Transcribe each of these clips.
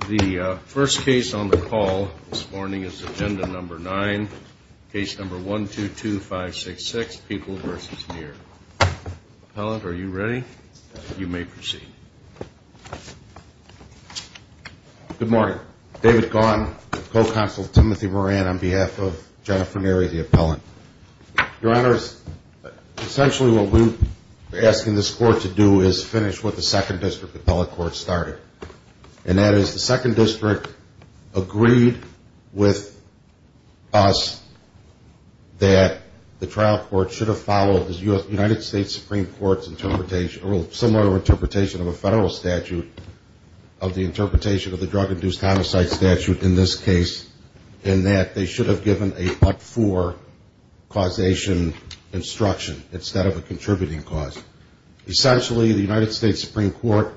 The first case on the call this morning is agenda number nine, case number 122566, People v. Nere. Appellant, are you ready? You may proceed. Good morning. David Gaughan, co-counsel Timothy Moran on behalf of Jennifer Nere, the appellant. Your honors, essentially what we're asking this court to do is finish what the second district appellate court started. And that is the second district agreed with us that the trial court should have followed the United States Supreme Court's interpretation, or similar interpretation of a federal statute, of the interpretation of the drug-induced homicide statute in this case, in that they should have given a but-for causation instruction instead of a contributing cause. Essentially, the United States Supreme Court,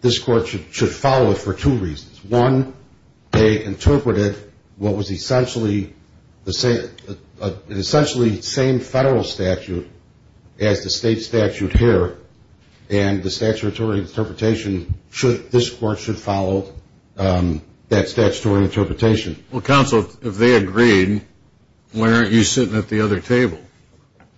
this court should follow it for two reasons. One, they interpreted what was essentially the same federal statute as the state statute here, and the statutory interpretation, this court should follow that statutory interpretation. Well, counsel, if they agreed, why aren't you sitting at the other table?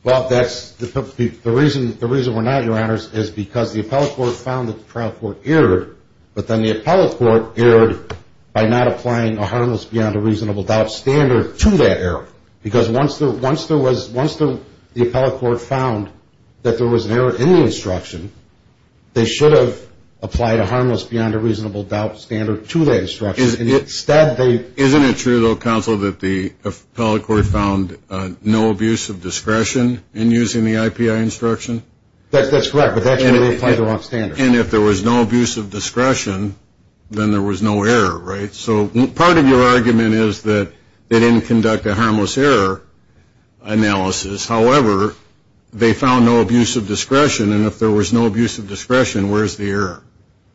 Well, the reason we're not, your honors, is because the appellate court found that the trial court erred, but then the appellate court erred by not applying a harmless beyond a reasonable doubt standard to that error. Because once the appellate court found that there was an error in the instruction, they should have applied a harmless beyond a reasonable doubt standard to that instruction. Isn't it true, though, counsel, that the appellate court found no abuse of discretion in using the IPI instruction? That's correct, but that's where they applied the wrong standard. And if there was no abuse of discretion, then there was no error, right? So part of your argument is that they didn't conduct a harmless error analysis. However, they found no abuse of discretion, and if there was no abuse of discretion, where's the error?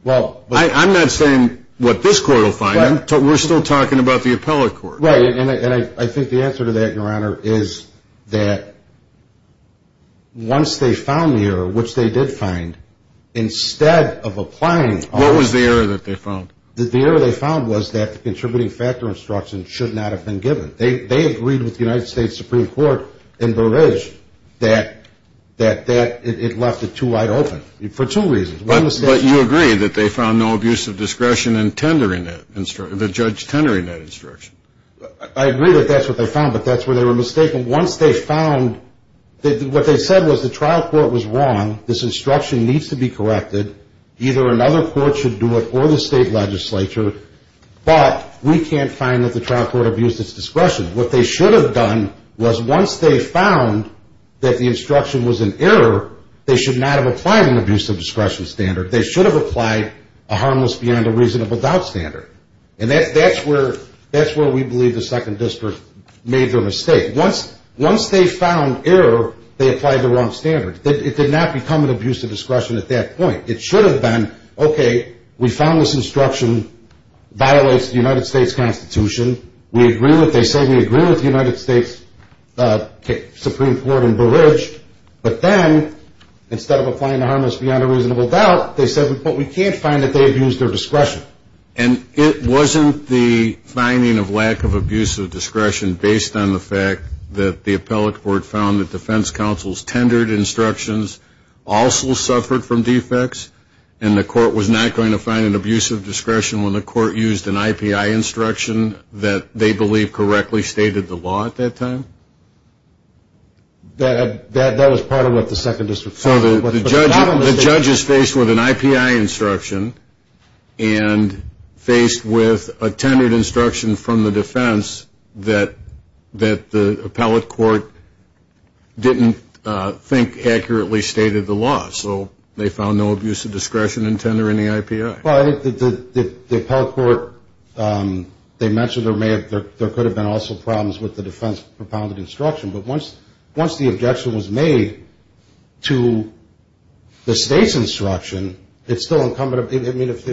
Well, I'm not saying what this court will find. We're still talking about the appellate court. Right, and I think the answer to that, your honor, is that once they found the error, which they did find, instead of applying all of that. What was the error that they found? The error they found was that the contributing factor instruction should not have been given. They agreed with the United States Supreme Court in Burridge that it left it too wide open for two reasons. But you agree that they found no abuse of discretion in tendering that instruction, the judge tendering that instruction. I agree that that's what they found, but that's where they were mistaken. Once they found that what they said was the trial court was wrong, this instruction needs to be corrected, either another court should do it or the state legislature, but we can't find that the trial court abused its discretion. What they should have done was once they found that the instruction was an error, they should not have applied an abuse of discretion standard. They should have applied a harmless beyond a reasonable doubt standard, and that's where we believe the Second District made their mistake. Once they found error, they applied the wrong standard. It did not become an abuse of discretion at that point. It should have been, okay, we found this instruction violates the United States Constitution, we agree with what they say, we agree with the United States Supreme Court in Burridge, but then instead of applying the harmless beyond a reasonable doubt, they said, but we can't find that they abused their discretion. And it wasn't the finding of lack of abuse of discretion based on the fact that the appellate court found that defense counsel's tendered instructions also suffered from defects, and the court was not going to find an abuse of discretion when the court used an IPI instruction that they believe correctly stated the law at that time? That was part of what the Second District found. So the judge is faced with an IPI instruction and faced with a tendered instruction from the defense that the appellate court didn't think accurately stated the law, so they found no abuse of discretion in tender in the IPI. Well, I think the appellate court, they mentioned there could have been also problems with the defense propounded instruction, but once the objection was made to the state's instruction, it's still incumbent. I mean, if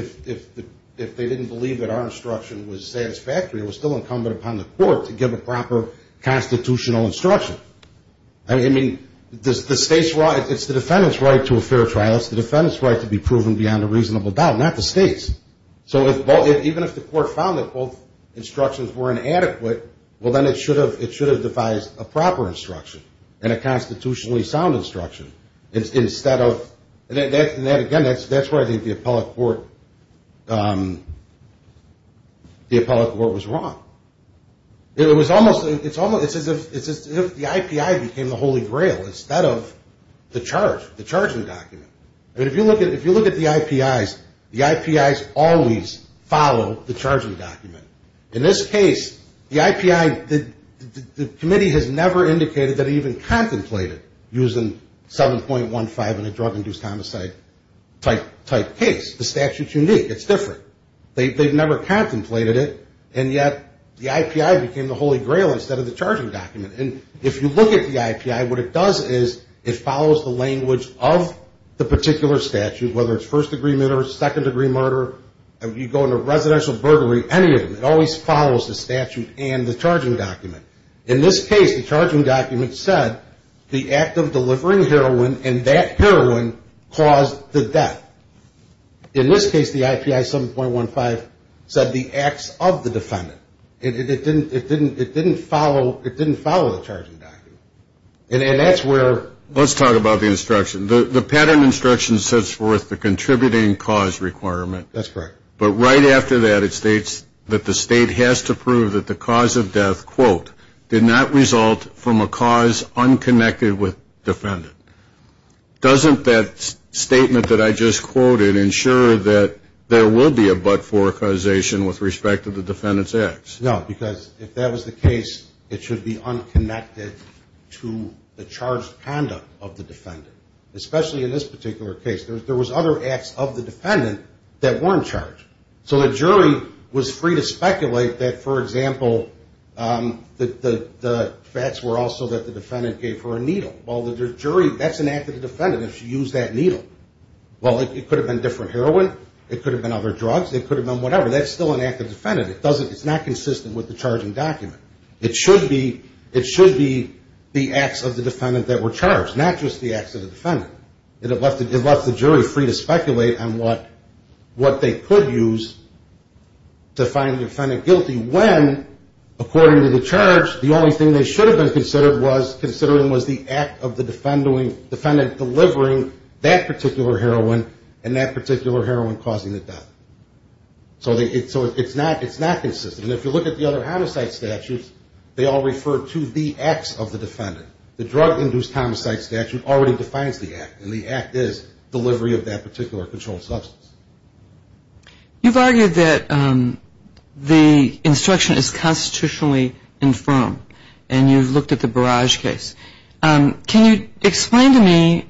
they didn't believe that our instruction was satisfactory, it was still incumbent upon the court to give a proper constitutional instruction. I mean, it's the defendant's right to a fair trial. It's the defendant's right to be proven beyond a reasonable doubt, not the state's. So even if the court found that both instructions were inadequate, well, then it should have devised a proper instruction and a constitutionally sound instruction. And again, that's where I think the appellate court was wrong. It's as if the IPI became the holy grail instead of the charging document. I mean, if you look at the IPIs, the IPIs always follow the charging document. In this case, the IPI, the committee has never indicated that it even contemplated using 7.15 in a drug-induced homicide type case. The statute's unique. It's different. They've never contemplated it, and yet the IPI became the holy grail instead of the charging document. And if you look at the IPI, what it does is it follows the language of the particular statute, whether it's first-degree murder, second-degree murder. If you go into residential burglary, any of them, it always follows the statute and the charging document. In this case, the charging document said the act of delivering heroin, and that heroin caused the death. In this case, the IPI 7.15 said the acts of the defendant. It didn't follow the charging document. And that's where we're at. Let's talk about the instruction. The pattern instruction sets forth the contributing cause requirement. That's correct. But right after that, it states that the state has to prove that the cause of death, quote, did not result from a cause unconnected with defendant. Doesn't that statement that I just quoted ensure that there will be a but-for causation with respect to the defendant's acts? No, because if that was the case, it should be unconnected to the charged conduct of the defendant, especially in this particular case. There was other acts of the defendant that weren't charged. So the jury was free to speculate that, for example, that the facts were also that the defendant gave her a needle. Well, the jury, that's an act of the defendant if she used that needle. Well, it could have been different heroin. It could have been other drugs. It could have been whatever. That's still an act of the defendant. It's not consistent with the charging document. It should be the acts of the defendant that were charged, not just the acts of the defendant. It left the jury free to speculate on what they could use to find the defendant guilty when, according to the charge, the only thing they should have been considering was the act of the defendant delivering that particular heroin and that particular heroin causing the death. So it's not consistent. And if you look at the other homicide statutes, they all refer to the acts of the defendant. The drug-induced homicide statute already defines the act, and the act is delivery of that particular controlled substance. You've argued that the instruction is constitutionally infirm, and you've looked at the Barrage case. Can you explain to me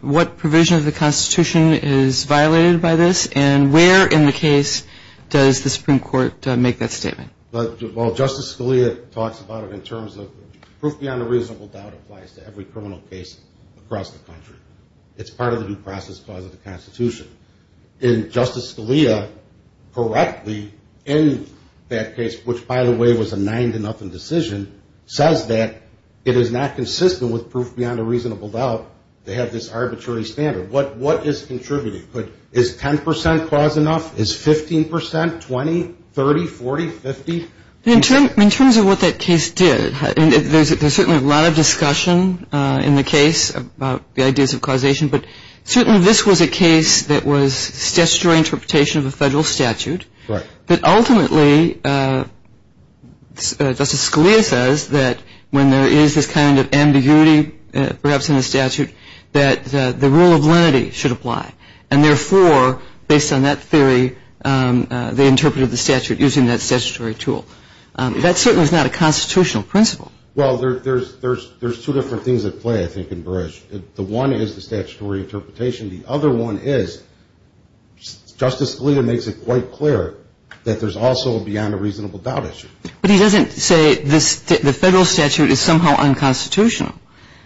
what provision of the Constitution is violated by this, and where in the case does the Supreme Court make that statement? Well, Justice Scalia talks about it in terms of proof beyond a reasonable doubt applies to every criminal case across the country. It's part of the due process clause of the Constitution. And Justice Scalia correctly in that case, which, by the way, was a nine-to-nothing decision, says that it is not consistent with proof beyond a reasonable doubt to have this arbitrary standard. What is contributing? Is 10 percent clause enough? Is 15 percent, 20, 30, 40, 50? In terms of what that case did, there's certainly a lot of discussion in the case about the ideas of causation, but certainly this was a case that was statutory interpretation of a federal statute. But ultimately, Justice Scalia says that when there is this kind of ambiguity, perhaps in the statute, that the rule of lenity should apply. And therefore, based on that theory, they interpreted the statute using that statutory tool. That certainly is not a constitutional principle. Well, there's two different things at play, I think, in Barrage. The one is the statutory interpretation. The other one is Justice Scalia makes it quite clear that there's also a beyond a reasonable doubt issue. But he doesn't say the federal statute is somehow unconstitutional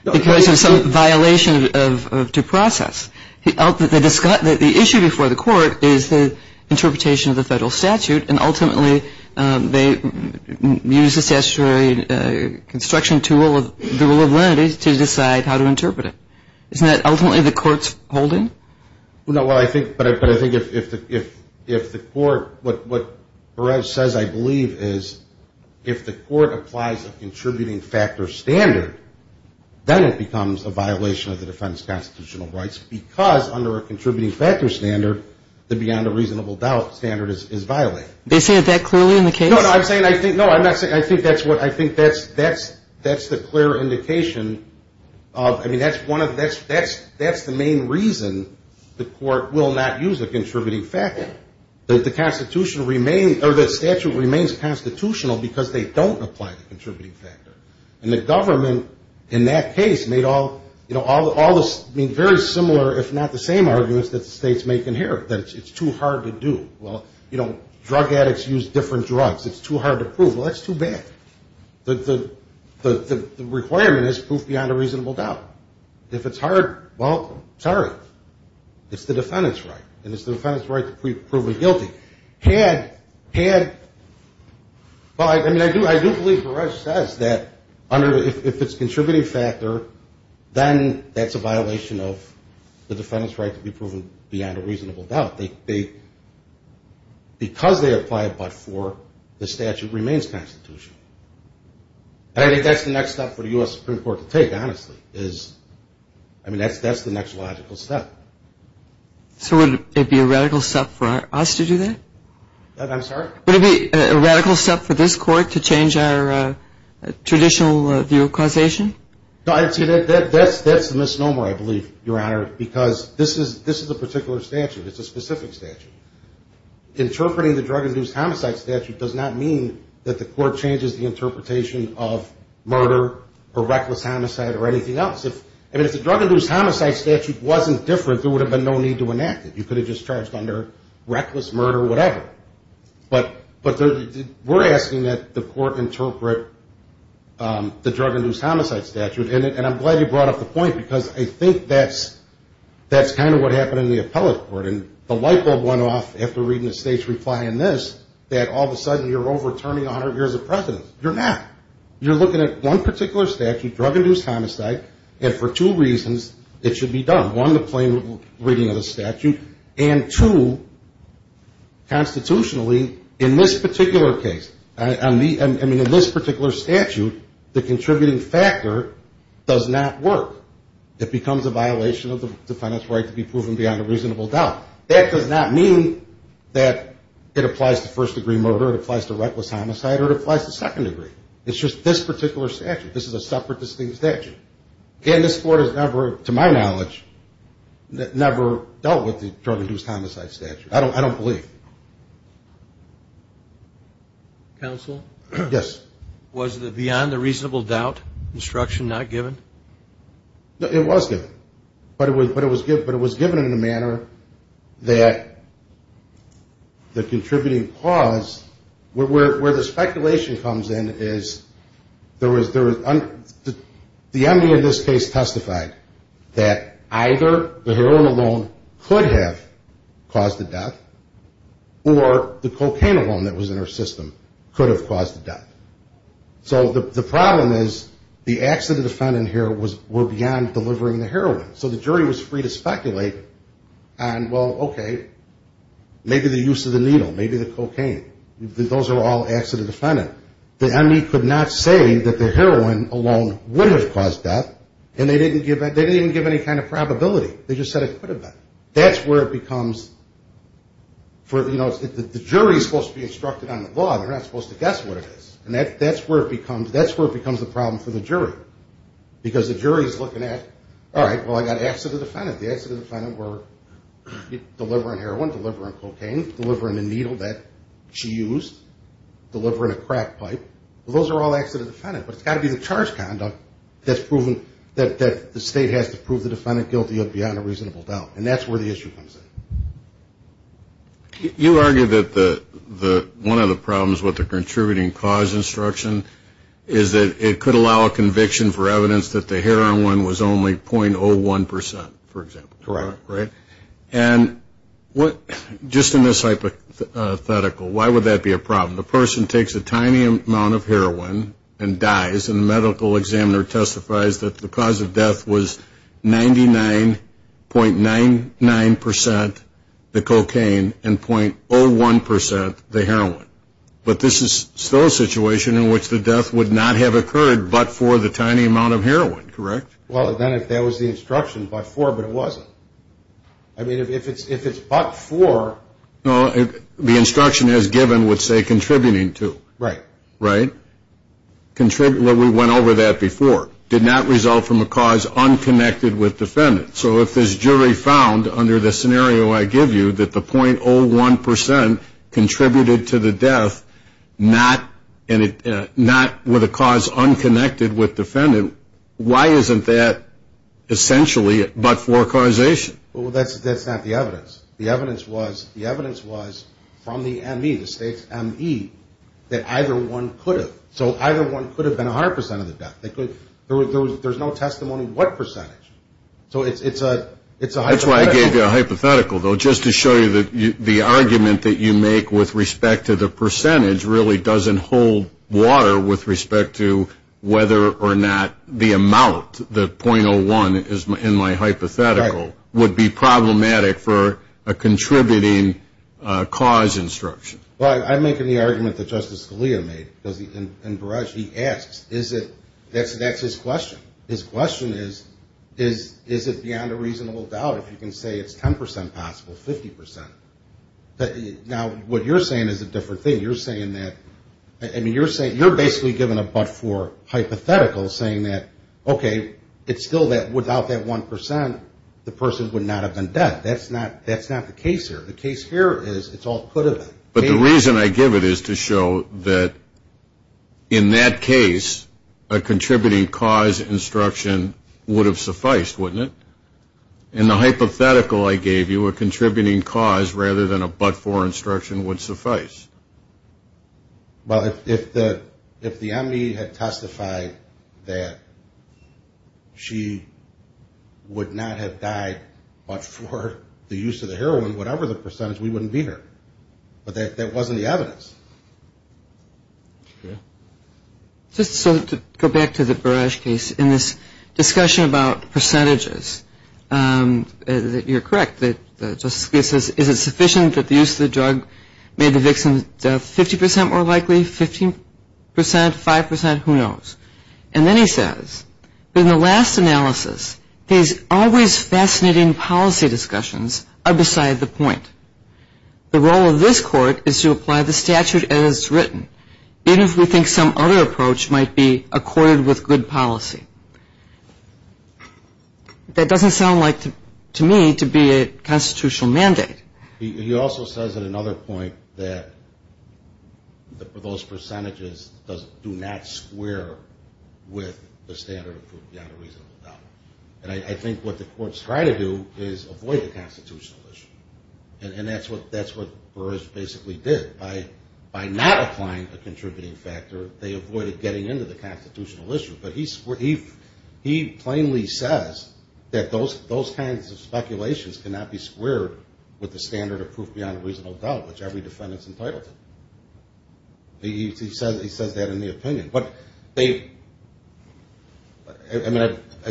because of some violation of due process. The issue before the court is the interpretation of the federal statute, and ultimately they use the statutory construction tool of the rule of lenity to decide how to interpret it. Isn't that ultimately the court's holding? No, but I think if the court, what Barrage says, I believe, is if the court applies a contributing factor standard, then it becomes a violation of the defense constitutional rights because under a contributing factor standard, the beyond a reasonable doubt standard is violated. They say that clearly in the case? No, no, I'm saying I think, no, I'm not saying, I think that's what, I think that's the clear indication of, I mean, that's one of the, that's the main reason the court will not use a contributing factor. The statute remains constitutional because they don't apply the contributing factor. And the government in that case made all, you know, all the, I mean, very similar, if not the same arguments that the states make in here, that it's too hard to do. Well, you know, drug addicts use different drugs. It's too hard to prove. Well, that's too bad. The requirement is proof beyond a reasonable doubt. If it's hard, well, sorry. It's the defendant's right, and it's the defendant's right to be proven guilty. Had, had, well, I mean, I do believe Beresh says that under, if it's a contributing factor, then that's a violation of the defendant's right to be proven beyond a reasonable doubt. They, because they apply it but for, the statute remains constitutional. And I think that's the next step for the U.S. Supreme Court to take, honestly, is, I mean, that's the next logical step. So would it be a radical step for us to do that? I'm sorry? Would it be a radical step for this court to change our traditional view of causation? No, that's the misnomer, I believe, Your Honor, because this is a particular statute. It's a specific statute. Interpreting the drug-induced homicide statute does not mean that the court changes the interpretation of murder or reckless homicide or anything else. I mean, if the drug-induced homicide statute wasn't different, there would have been no need to enact it. You could have just charged under reckless murder or whatever. But we're asking that the court interpret the drug-induced homicide statute, and I'm glad you brought up the point because I think that's kind of what happened in the appellate court. And the light bulb went off after reading the state's reply on this, that all of a sudden you're overturning 100 years of precedence. You're not. You're looking at one particular statute, drug-induced homicide, and for two reasons it should be done. One, the plain reading of the statute, and two, constitutionally in this particular case, I mean, in this particular statute, the contributing factor does not work. It becomes a violation of the defendant's right to be proven beyond a reasonable doubt. That does not mean that it applies to first-degree murder, it applies to reckless homicide, or it applies to second-degree. It's just this particular statute. This is a separate distinct statute. Again, this court has never, to my knowledge, never dealt with the drug-induced homicide statute. I don't believe. Counsel? Yes. Was the beyond a reasonable doubt instruction not given? It was given. But it was given in a manner that the contributing cause, where the speculation comes in is there was uncertainty. The MD in this case testified that either the heroin alone could have caused the death, or the cocaine alone that was in her system could have caused the death. So the problem is the acts of the defendant here were beyond delivering the heroin. So the jury was free to speculate on, well, okay, maybe the use of the needle, maybe the cocaine. Those are all acts of the defendant. The MD could not say that the heroin alone would have caused death, and they didn't even give any kind of probability. They just said it could have been. That's where it becomes, you know, the jury is supposed to be instructed on the law. They're not supposed to guess what it is. And that's where it becomes the problem for the jury. Because the jury is looking at, all right, well, I got acts of the defendant. The acts of the defendant were delivering heroin, delivering cocaine, delivering the needle that she used, delivering a crack pipe. Well, those are all acts of the defendant. But it's got to be the charge conduct that the state has to prove the defendant guilty of beyond a reasonable doubt. And that's where the issue comes in. You argue that one of the problems with the contributing cause instruction is that it could allow a conviction for evidence that the heroin was only 0.01 percent, for example. Correct. Right? And just in this hypothetical, why would that be a problem? The person takes a tiny amount of heroin and dies, and the medical examiner testifies that the cause of death was 99.99 percent the cocaine and 0.01 percent the heroin. But this is still a situation in which the death would not have occurred but for the tiny amount of heroin. Correct? Well, then if that was the instruction, but for, but it wasn't. I mean, if it's but for. No, the instruction as given would say contributing to. Right. Right? Well, we went over that before. Did not result from a cause unconnected with defendant. So if this jury found under the scenario I give you that the 0.01 percent contributed to the death, not with a cause unconnected with defendant, why isn't that essentially but for causation? Well, that's not the evidence. The evidence was from the ME, the state's ME, that either one could have. So either one could have been 100 percent of the death. There's no testimony what percentage. So it's a hypothetical. That's why I gave you a hypothetical, though, just to show you that the argument that you make with respect to the percentage really doesn't hold water with respect to whether or not the amount, the 0.01 in my hypothetical, would be problematic for a contributing cause instruction. Well, I'm making the argument that Justice Scalia made. In Barrage, he asks, is it, that's his question. His question is, is it beyond a reasonable doubt if you can say it's 10 percent possible, 50 percent? Now, what you're saying is a different thing. You're saying that, I mean, you're saying, you're basically giving a but-for hypothetical saying that, okay, it's still that without that 1 percent, the person would not have been dead. That's not the case here. The case here is it's all could have been. But the reason I give it is to show that in that case, a contributing cause instruction would have sufficed, wouldn't it? In the hypothetical I gave you, a contributing cause rather than a but-for instruction would suffice. Well, if the enemy had testified that she would not have died but for the use of the heroin, whatever the percentage, we wouldn't be here. But that wasn't the evidence. Just so to go back to the Barrage case, in this discussion about percentages, you're correct. Justice Scalia says, is it sufficient that the use of the drug made the victim 50 percent more likely, 15 percent, 5 percent? Who knows? And then he says, in the last analysis, he's always fascinating policy discussions are beside the point. The role of this Court is to apply the statute as it's written, even if we think some other approach might be accorded with good policy. That doesn't sound like, to me, to be a constitutional mandate. He also says at another point that those percentages do not square with the standard of proof beyond a reasonable doubt. And I think what the courts try to do is avoid the constitutional issue. And that's what Barrage basically did. By not applying a contributing factor, they avoided getting into the constitutional issue. But he plainly says that those kinds of speculations cannot be squared with the standard of proof beyond a reasonable doubt, which every defendant is entitled to. He says that in the opinion. I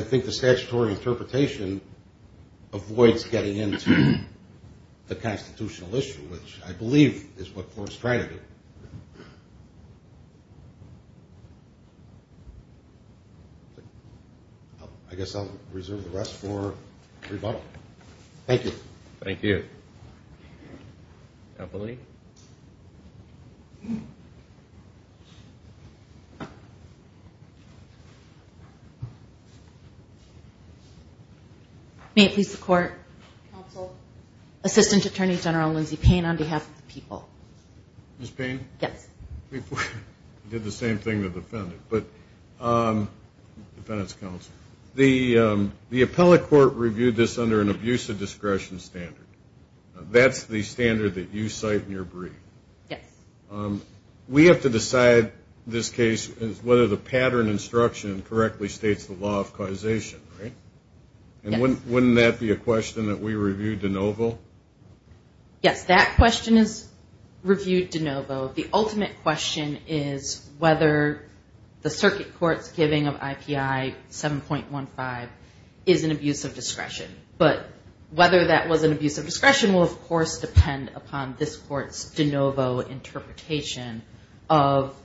think the statutory interpretation avoids getting into the constitutional issue, which I believe is what the court is trying to do. I guess I'll reserve the rest for rebuttal. Thank you. Thank you. Appellee. May it please the Court. Counsel. Assistant Attorney General Lindsey Payne on behalf of the people. Ms. Payne? Yes. We did the same thing to the defendant. Defendant's counsel. The appellate court reviewed this under an abuse of discretion standard. That's the standard that you cite in your brief. Yes. We have to decide in this case whether the pattern instruction correctly states the law of causation, right? Yes. And wouldn't that be a question that we review de novo? Yes. That question is reviewed de novo. The ultimate question is whether the circuit court's giving of IPI 7.15 is an abuse of discretion. But whether that was an abuse of discretion will, of course, depend upon this court's de novo interpretation of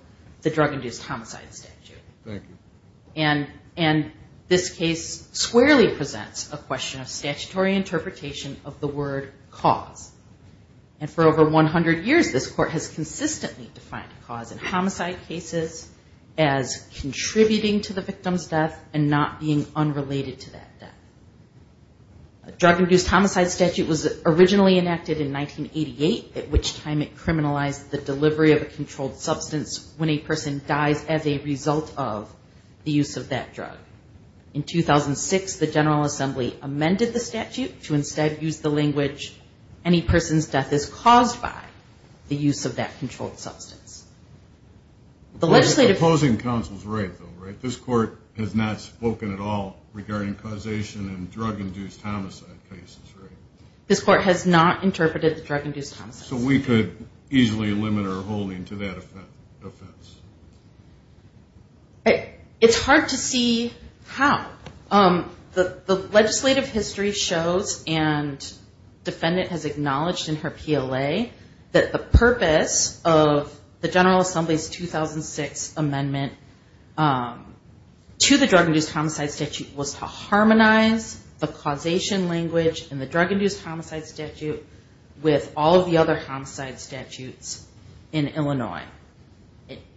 the drug-induced homicide statute. Thank you. And this case squarely presents a question of statutory interpretation of the word cause. And for over 100 years, this court has consistently defined cause in homicide cases as contributing to the victim's death and not being unrelated to that death. Drug-induced homicide statute was originally enacted in 1988, at which time it criminalized the delivery of a controlled substance when a person dies as a result of the use of that drug. In 2006, the General Assembly amended the statute to instead use the language, any person's death is caused by the use of that controlled substance. Opposing counsel's right, though, right? This court has not spoken at all regarding causation in drug-induced homicide cases, right? This court has not interpreted the drug-induced homicide. So we could easily limit our holding to that offense. It's hard to see how. The legislative history shows, and the defendant has acknowledged in her PLA, that the purpose of the General Assembly's 2006 amendment to the drug-induced homicide statute was to harmonize the causation language in the drug-induced homicide statute with all of the other homicides.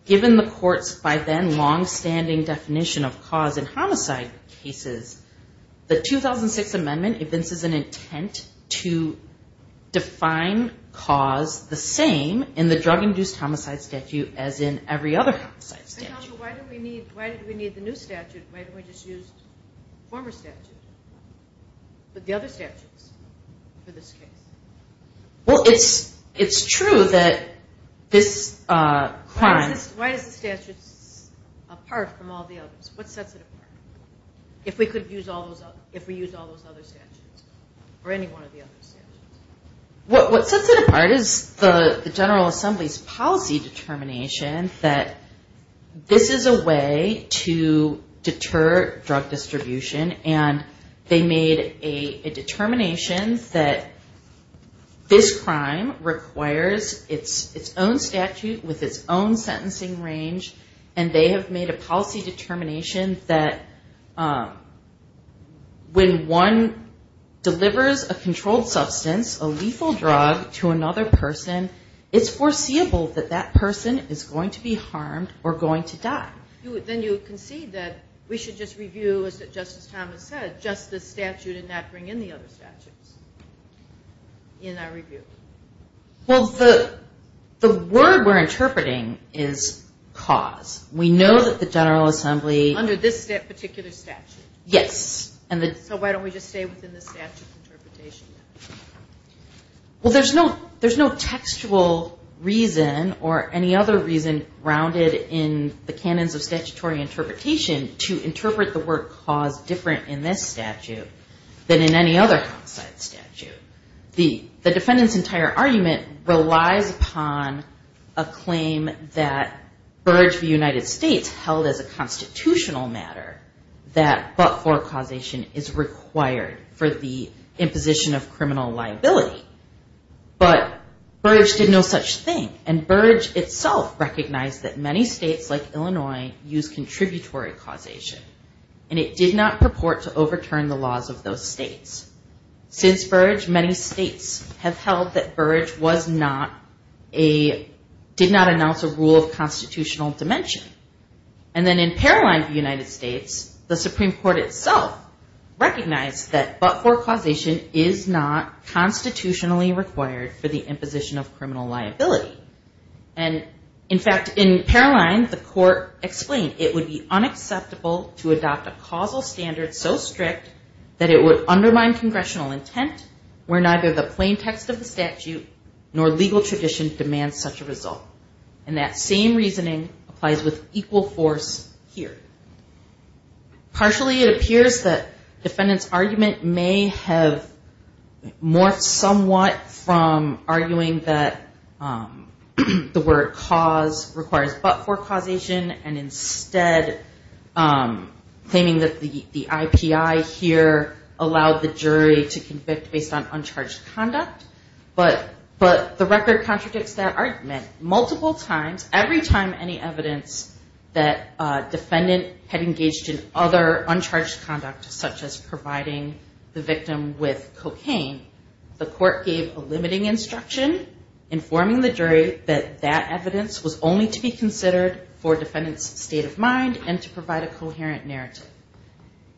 Given the court's, by then, long-standing definition of cause in homicide cases, the 2006 amendment evinces an intent to define cause the same in the drug-induced homicide statute as in every other homicide statute. Why did we need the new statute? Why didn't we just use the former statute, but the other statutes for this case? Well, it's true that this crime... Why is the statute apart from all the others? What sets it apart? If we use all those other statutes, or any one of the other statutes? What sets it apart is the General Assembly's policy determination that this is a way to deter drug distribution. And they made a determination that this crime requires its own statute with its own sentencing range. And they have made a policy determination that when one delivers a controlled substance, it's a crime. When one delivers a lethal drug to another person, it's foreseeable that that person is going to be harmed or going to die. Then you concede that we should just review, as Justice Thomas said, just the statute and not bring in the other statutes in our review? Well, the word we're interpreting is cause. We know that the General Assembly... Under this particular statute? Yes. So why don't we just stay within the statute of interpretation? Well, there's no textual reason or any other reason grounded in the canons of statutory interpretation to interpret the word cause different in this statute than in any other considered statute. The defendant's entire argument relies upon a claim that Burge v. United States held as a constitutional matter, that Burge v. United States held as a constitutional matter. And that's what forecausation is required for the imposition of criminal liability. But Burge did no such thing, and Burge itself recognized that many states like Illinois use contributory causation, and it did not purport to overturn the laws of those states. Since Burge, many states have held that Burge did not announce a rule of constitutional dimension. And then in Paroline v. United States, the Supreme Court itself recognized that but-for causation is not constitutionally required for the imposition of criminal liability. And in fact, in Paroline, the court explained it would be unacceptable to adopt a causal standard so strict that it would undermine congressional intent where neither the plain text of the statute nor legal tradition demands such a result. And that same reasoning applies with equal force here. Partially it appears that defendant's argument may have morphed somewhat from arguing that the word cause requires but-for causation and instead claiming that the IPI here allowed the jury to convict based on uncharged conduct. But the record contradicts that argument. Multiple times, every time any evidence that defendant had engaged in other uncharged conduct such as providing the victim with cocaine, the court gave a limiting instruction informing the jury that that evidence was only to be considered for defendant's state of mind and to provide a coherent narrative.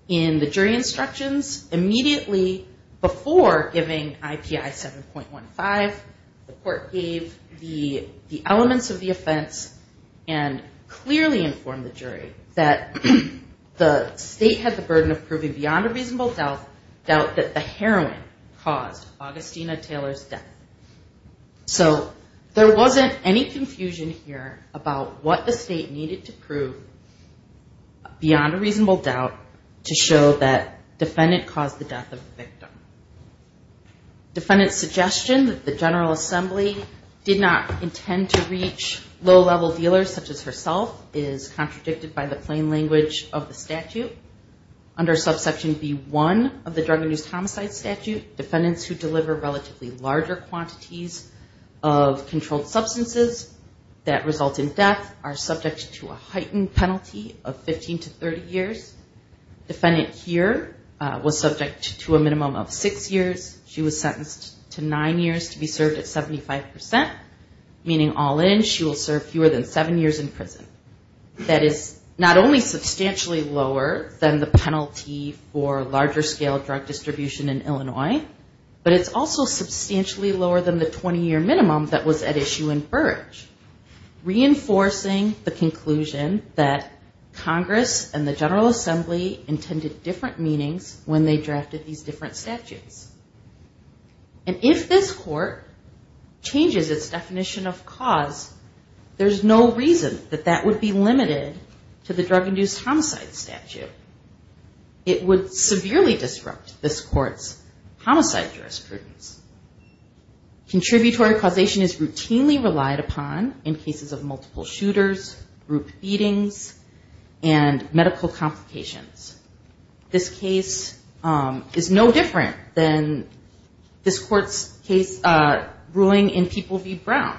And the jury instructions immediately before giving IPI 7.15, the court gave the elements of the offense and clearly informed the jury that the state had the burden of proving beyond a reasonable doubt that the heroin caused Augustina Taylor's death. So there wasn't any confusion here about what the state needed to prove beyond a reasonable doubt. To show that defendant caused the death of the victim. Defendant's suggestion that the General Assembly did not intend to reach low-level dealers such as herself is contradicted by the plain language of the statute. Under subsection B1 of the Drug and Use Homicide Statute, defendants who deliver relatively larger quantities of controlled substances that result in death are subject to a heightened penalty of 15 to 30 years. Defendant here was subject to a minimum of six years. She was sentenced to nine years to be served at 75%, meaning all in, she will serve fewer than seven years in prison. That is not only substantially lower than the penalty for larger scale drug distribution in Illinois, but it's also substantially lower than the 20-year minimum that was at issue in Burrage. Reinforcing the conclusion that Congress and the General Assembly intended different meanings when they drafted these different statutes. And if this court changes its definition of cause, there's no reason that that would be limited to the Drug and Use Homicide Statute. It would severely disrupt this court's homicide jurisprudence. Contributory causation is routinely relied upon in cases of multiple shooters, group feedings, and medical complications. This case is no different than this court's ruling in People v. Brown.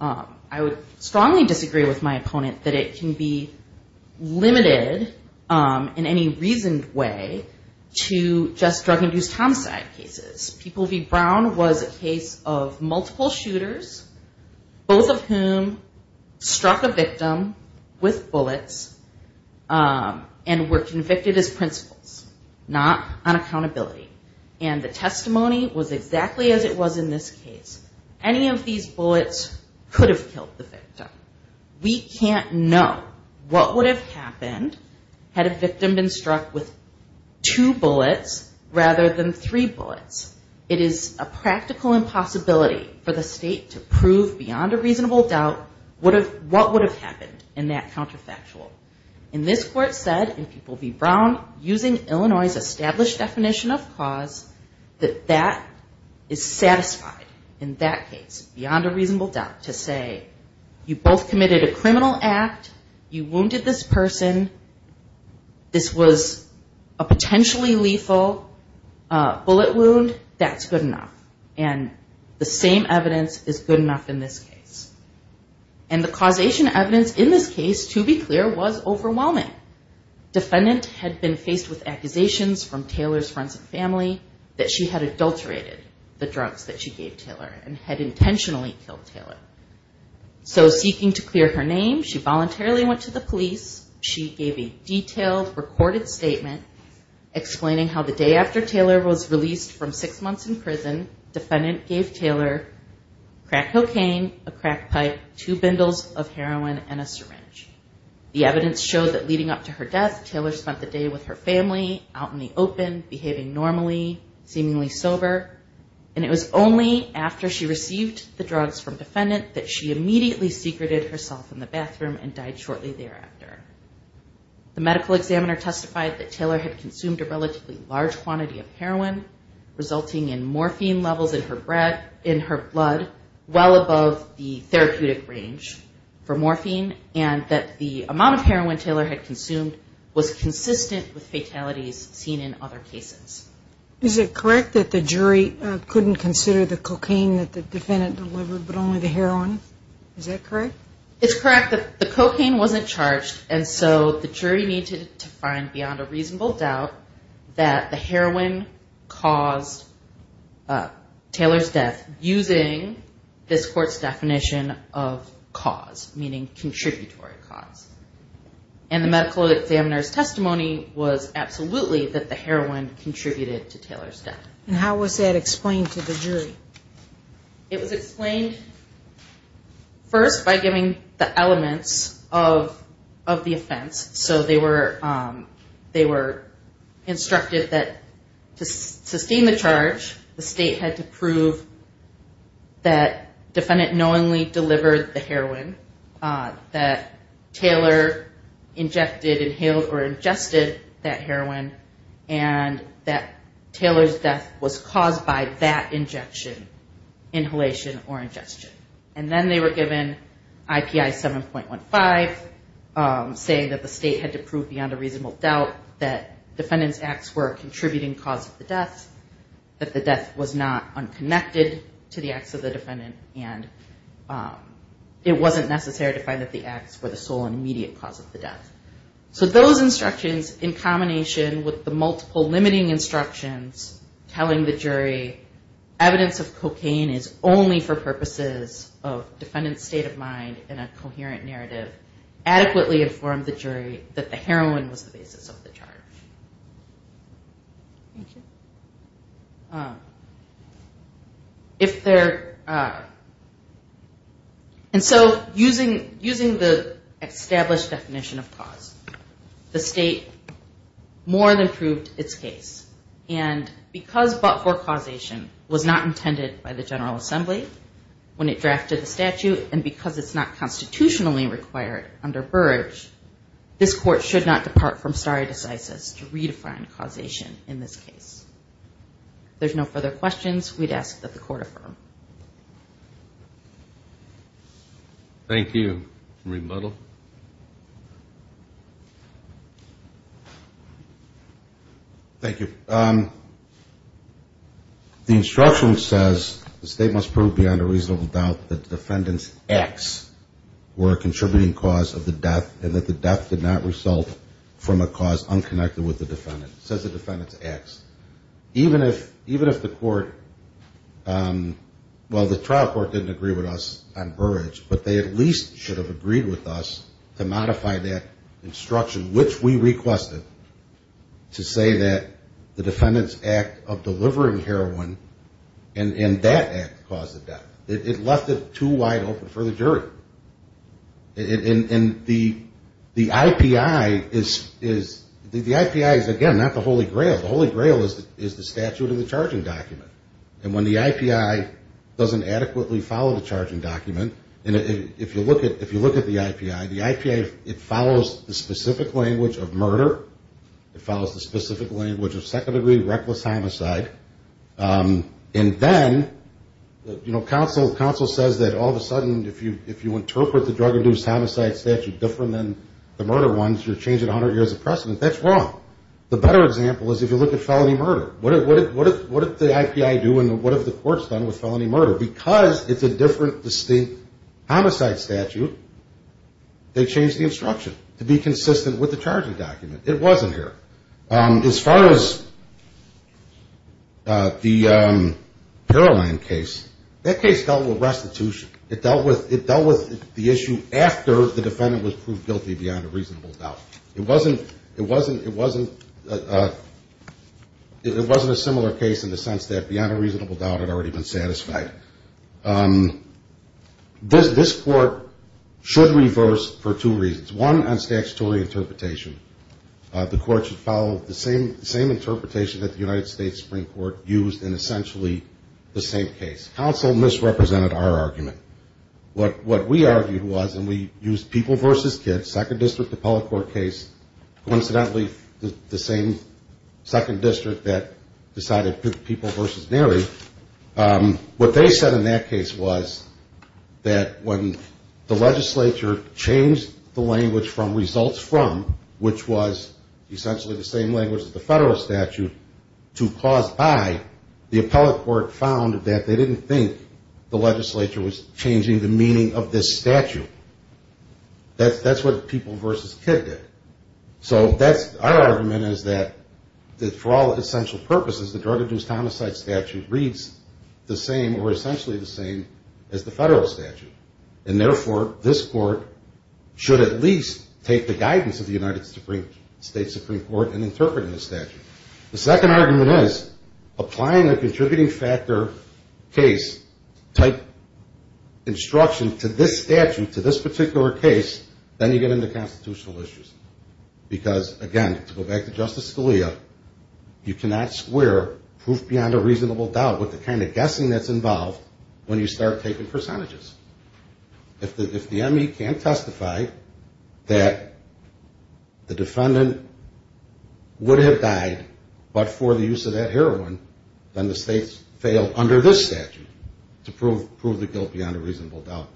I would strongly disagree with my opponent that it can be limited in any reasoned way to just Drug and Use Homicide cases. People v. Brown was a case of multiple shooters, both of whom struck a victim with bullets and were convicted as principals, not on accountability. And the testimony was exactly as it was in this case. Any of these bullets could have killed the victim. We can't know what would have happened had a victim been struck with two bullets rather than three bullets. It is a practical impossibility for the state to prove beyond a reasonable doubt what would have happened in that counterfactual. And this court said in People v. Brown, using Illinois' established definition of cause, that that is satisfied in that case, beyond a reasonable doubt, to say, you both committed a criminal act, you wounded this person, this was a potentially lethal bullet wound, that's good enough. And the same evidence is good enough in this case. And the causation evidence in this case, to be clear, was overwhelming. Defendant had been faced with accusations from Taylor's friends and family that she had adulterated the drugs that she gave Taylor and had intentionally killed Taylor. So seeking to clear her name, she voluntarily went to the police. She gave a detailed, recorded statement explaining how the day after Taylor was released from six months in prison, defendant gave Taylor crack cocaine, a crack pipe, two bundles of heroin and a syringe. The evidence showed that leading up to her death, Taylor spent the day with her family, out in the open, behaving normally, seemingly sober, and it was only after she received the drugs from defendant that she immediately secreted herself in the bathroom and died shortly thereafter. The medical examiner testified that Taylor had consumed a relatively large quantity of heroin, resulting in morphine levels in her blood, well above the therapeutic range for morphine, and that the amount of heroin Taylor had consumed was consistent with fatalities seen in other cases. Is it correct that the jury couldn't consider the cocaine that the defendant delivered, but only the heroin? Is that correct? It's correct that the cocaine wasn't charged, and so the jury needed to find beyond a reasonable doubt that the heroin caused Taylor's death using this court's definition of cause, meaning contributory cause. And the medical examiner's testimony was absolutely that the heroin contributed to Taylor's death. And how was that explained to the jury? It was explained first by giving the elements of the offense. So they were instructed that to sustain the charge, the state had to prove that defendant knowingly delivered the heroin, that Taylor injected, inhaled, or ingested that heroin, and that Taylor's death was caused by that injection, inhalation, or ingestion. And then they were given IPI 7.15, saying that the state had to prove that defendant knowingly delivered the heroin, that the state had to prove beyond a reasonable doubt that defendant's acts were a contributing cause of the death, that the death was not unconnected to the acts of the defendant, and it wasn't necessary to find that the acts were the sole and immediate cause of the death. So those instructions, in combination with the multiple limiting instructions telling the jury evidence of cocaine is only for the state, that the heroin was the basis of the charge. And so using the established definition of cause, the state more than proved its case. And because but-for causation was not intended by the General Assembly when it drafted the statute, and because it's not intended by the General Assembly, this court should not depart from stare decisis to redefine causation in this case. If there's no further questions, we'd ask that the court affirm. Thank you. Marie Buttle. Thank you. The instruction says the state must prove beyond a reasonable doubt that the defendant's acts were a contributing cause of the death, and the court should not depart from stare decisis to redefine causation in this case. Even if the court, well, the trial court didn't agree with us on Burrage, but they at least should have agreed with us to modify that instruction, which we requested to say that the defendant's act of delivering heroin and that act caused the death. It left it too wide open for the jury. And the IPI is, again, not the holy grail. The holy grail is the statute of the charging document. And when the IPI doesn't adequately follow the charging document, and if you look at the IPI, the IPA, it follows the specific language of murder, it follows the specific language of second-degree reckless homicide, and then, you know, counsel says that all of a sudden, if you interpret the drug-induced homicide statute different than the murder ones, you're changing 100 years of precedent. That's wrong. The better example is if you look at felony murder. What did the IPI do, and what have the courts done with felony murder? Because it's a different, distinct homicide statute, they changed the instruction to be consistent with the charging document. It wasn't here. As far as the Paroline case, that case dealt with restitution. It dealt with the issue after the defendant was proved guilty beyond a reasonable doubt. It wasn't a similar case in the sense that beyond a reasonable doubt it had already been satisfied. This court should reverse for two reasons. One, on statutory interpretation. The court should find that the defendant was convicted. The second reason is how the same interpretation that the United States Supreme Court used in essentially the same case. Counsel misrepresented our argument. What we argued was, and we used people versus kids, second district appellate court case, coincidentally, the same second district that decided people versus Mary. What they said in that case was that when the legislature changed the language from results from, which was essentially the same thing, they changed the language from results from the same language as the federal statute to caused by, the appellate court found that they didn't think the legislature was changing the meaning of this statute. That's what people versus kid did. So our argument is that for all essential purposes, the drug-induced homicide statute reads the same or essentially the same as the federal statute. And therefore, this court should at least look at the guidance of the United States Supreme Court in interpreting the statute. The second argument is, applying a contributing factor case type instruction to this statute, to this particular case, then you get into constitutional issues. Because, again, to go back to Justice Scalia, you cannot square proof beyond a reasonable doubt with the kind of guessing that's involved when you start taking percentages. If the ME can't testify that the defendant was convicted, then you can't testify that the defendant would have died, but for the use of that heroin, then the states fail under this statute to prove the guilt beyond a reasonable doubt.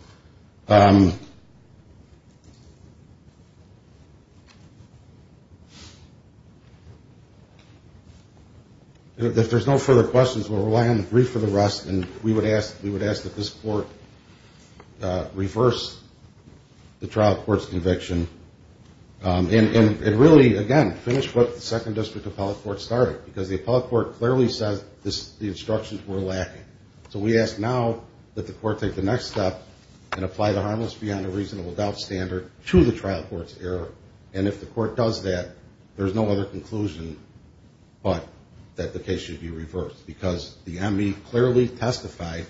If there's no further questions, we'll rely on the brief for the rest and we would ask that this court reverse the trial court's conviction and really, again, finish what the second district appellate court started, because the appellate court clearly says the instructions were lacking. So we ask now that the court take the next step and apply the harmless beyond a reasonable doubt standard to the trial court's error, and if the court does that, there's no other conclusion but that the case should be reversed, because the ME clearly testified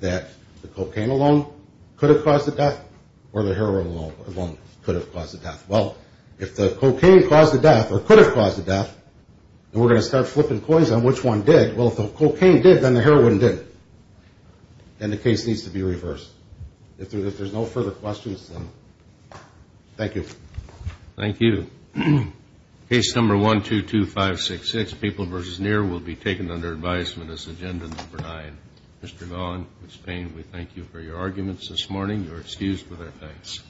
that the cocaine alone could not have been the cause of death, or the heroin alone could have caused the death. Well, if the cocaine caused the death or could have caused the death, then we're going to start flipping coins on which one did. Well, if the cocaine did, then the heroin didn't. Then the case needs to be reversed. If there's no further questions, then thank you. Thank you. Case number 122566, People v. Near, will be taken under advisement as agenda number nine. Mr. Gahl and Ms. Payne, we thank you for your arguments this morning. You are excused with our thanks.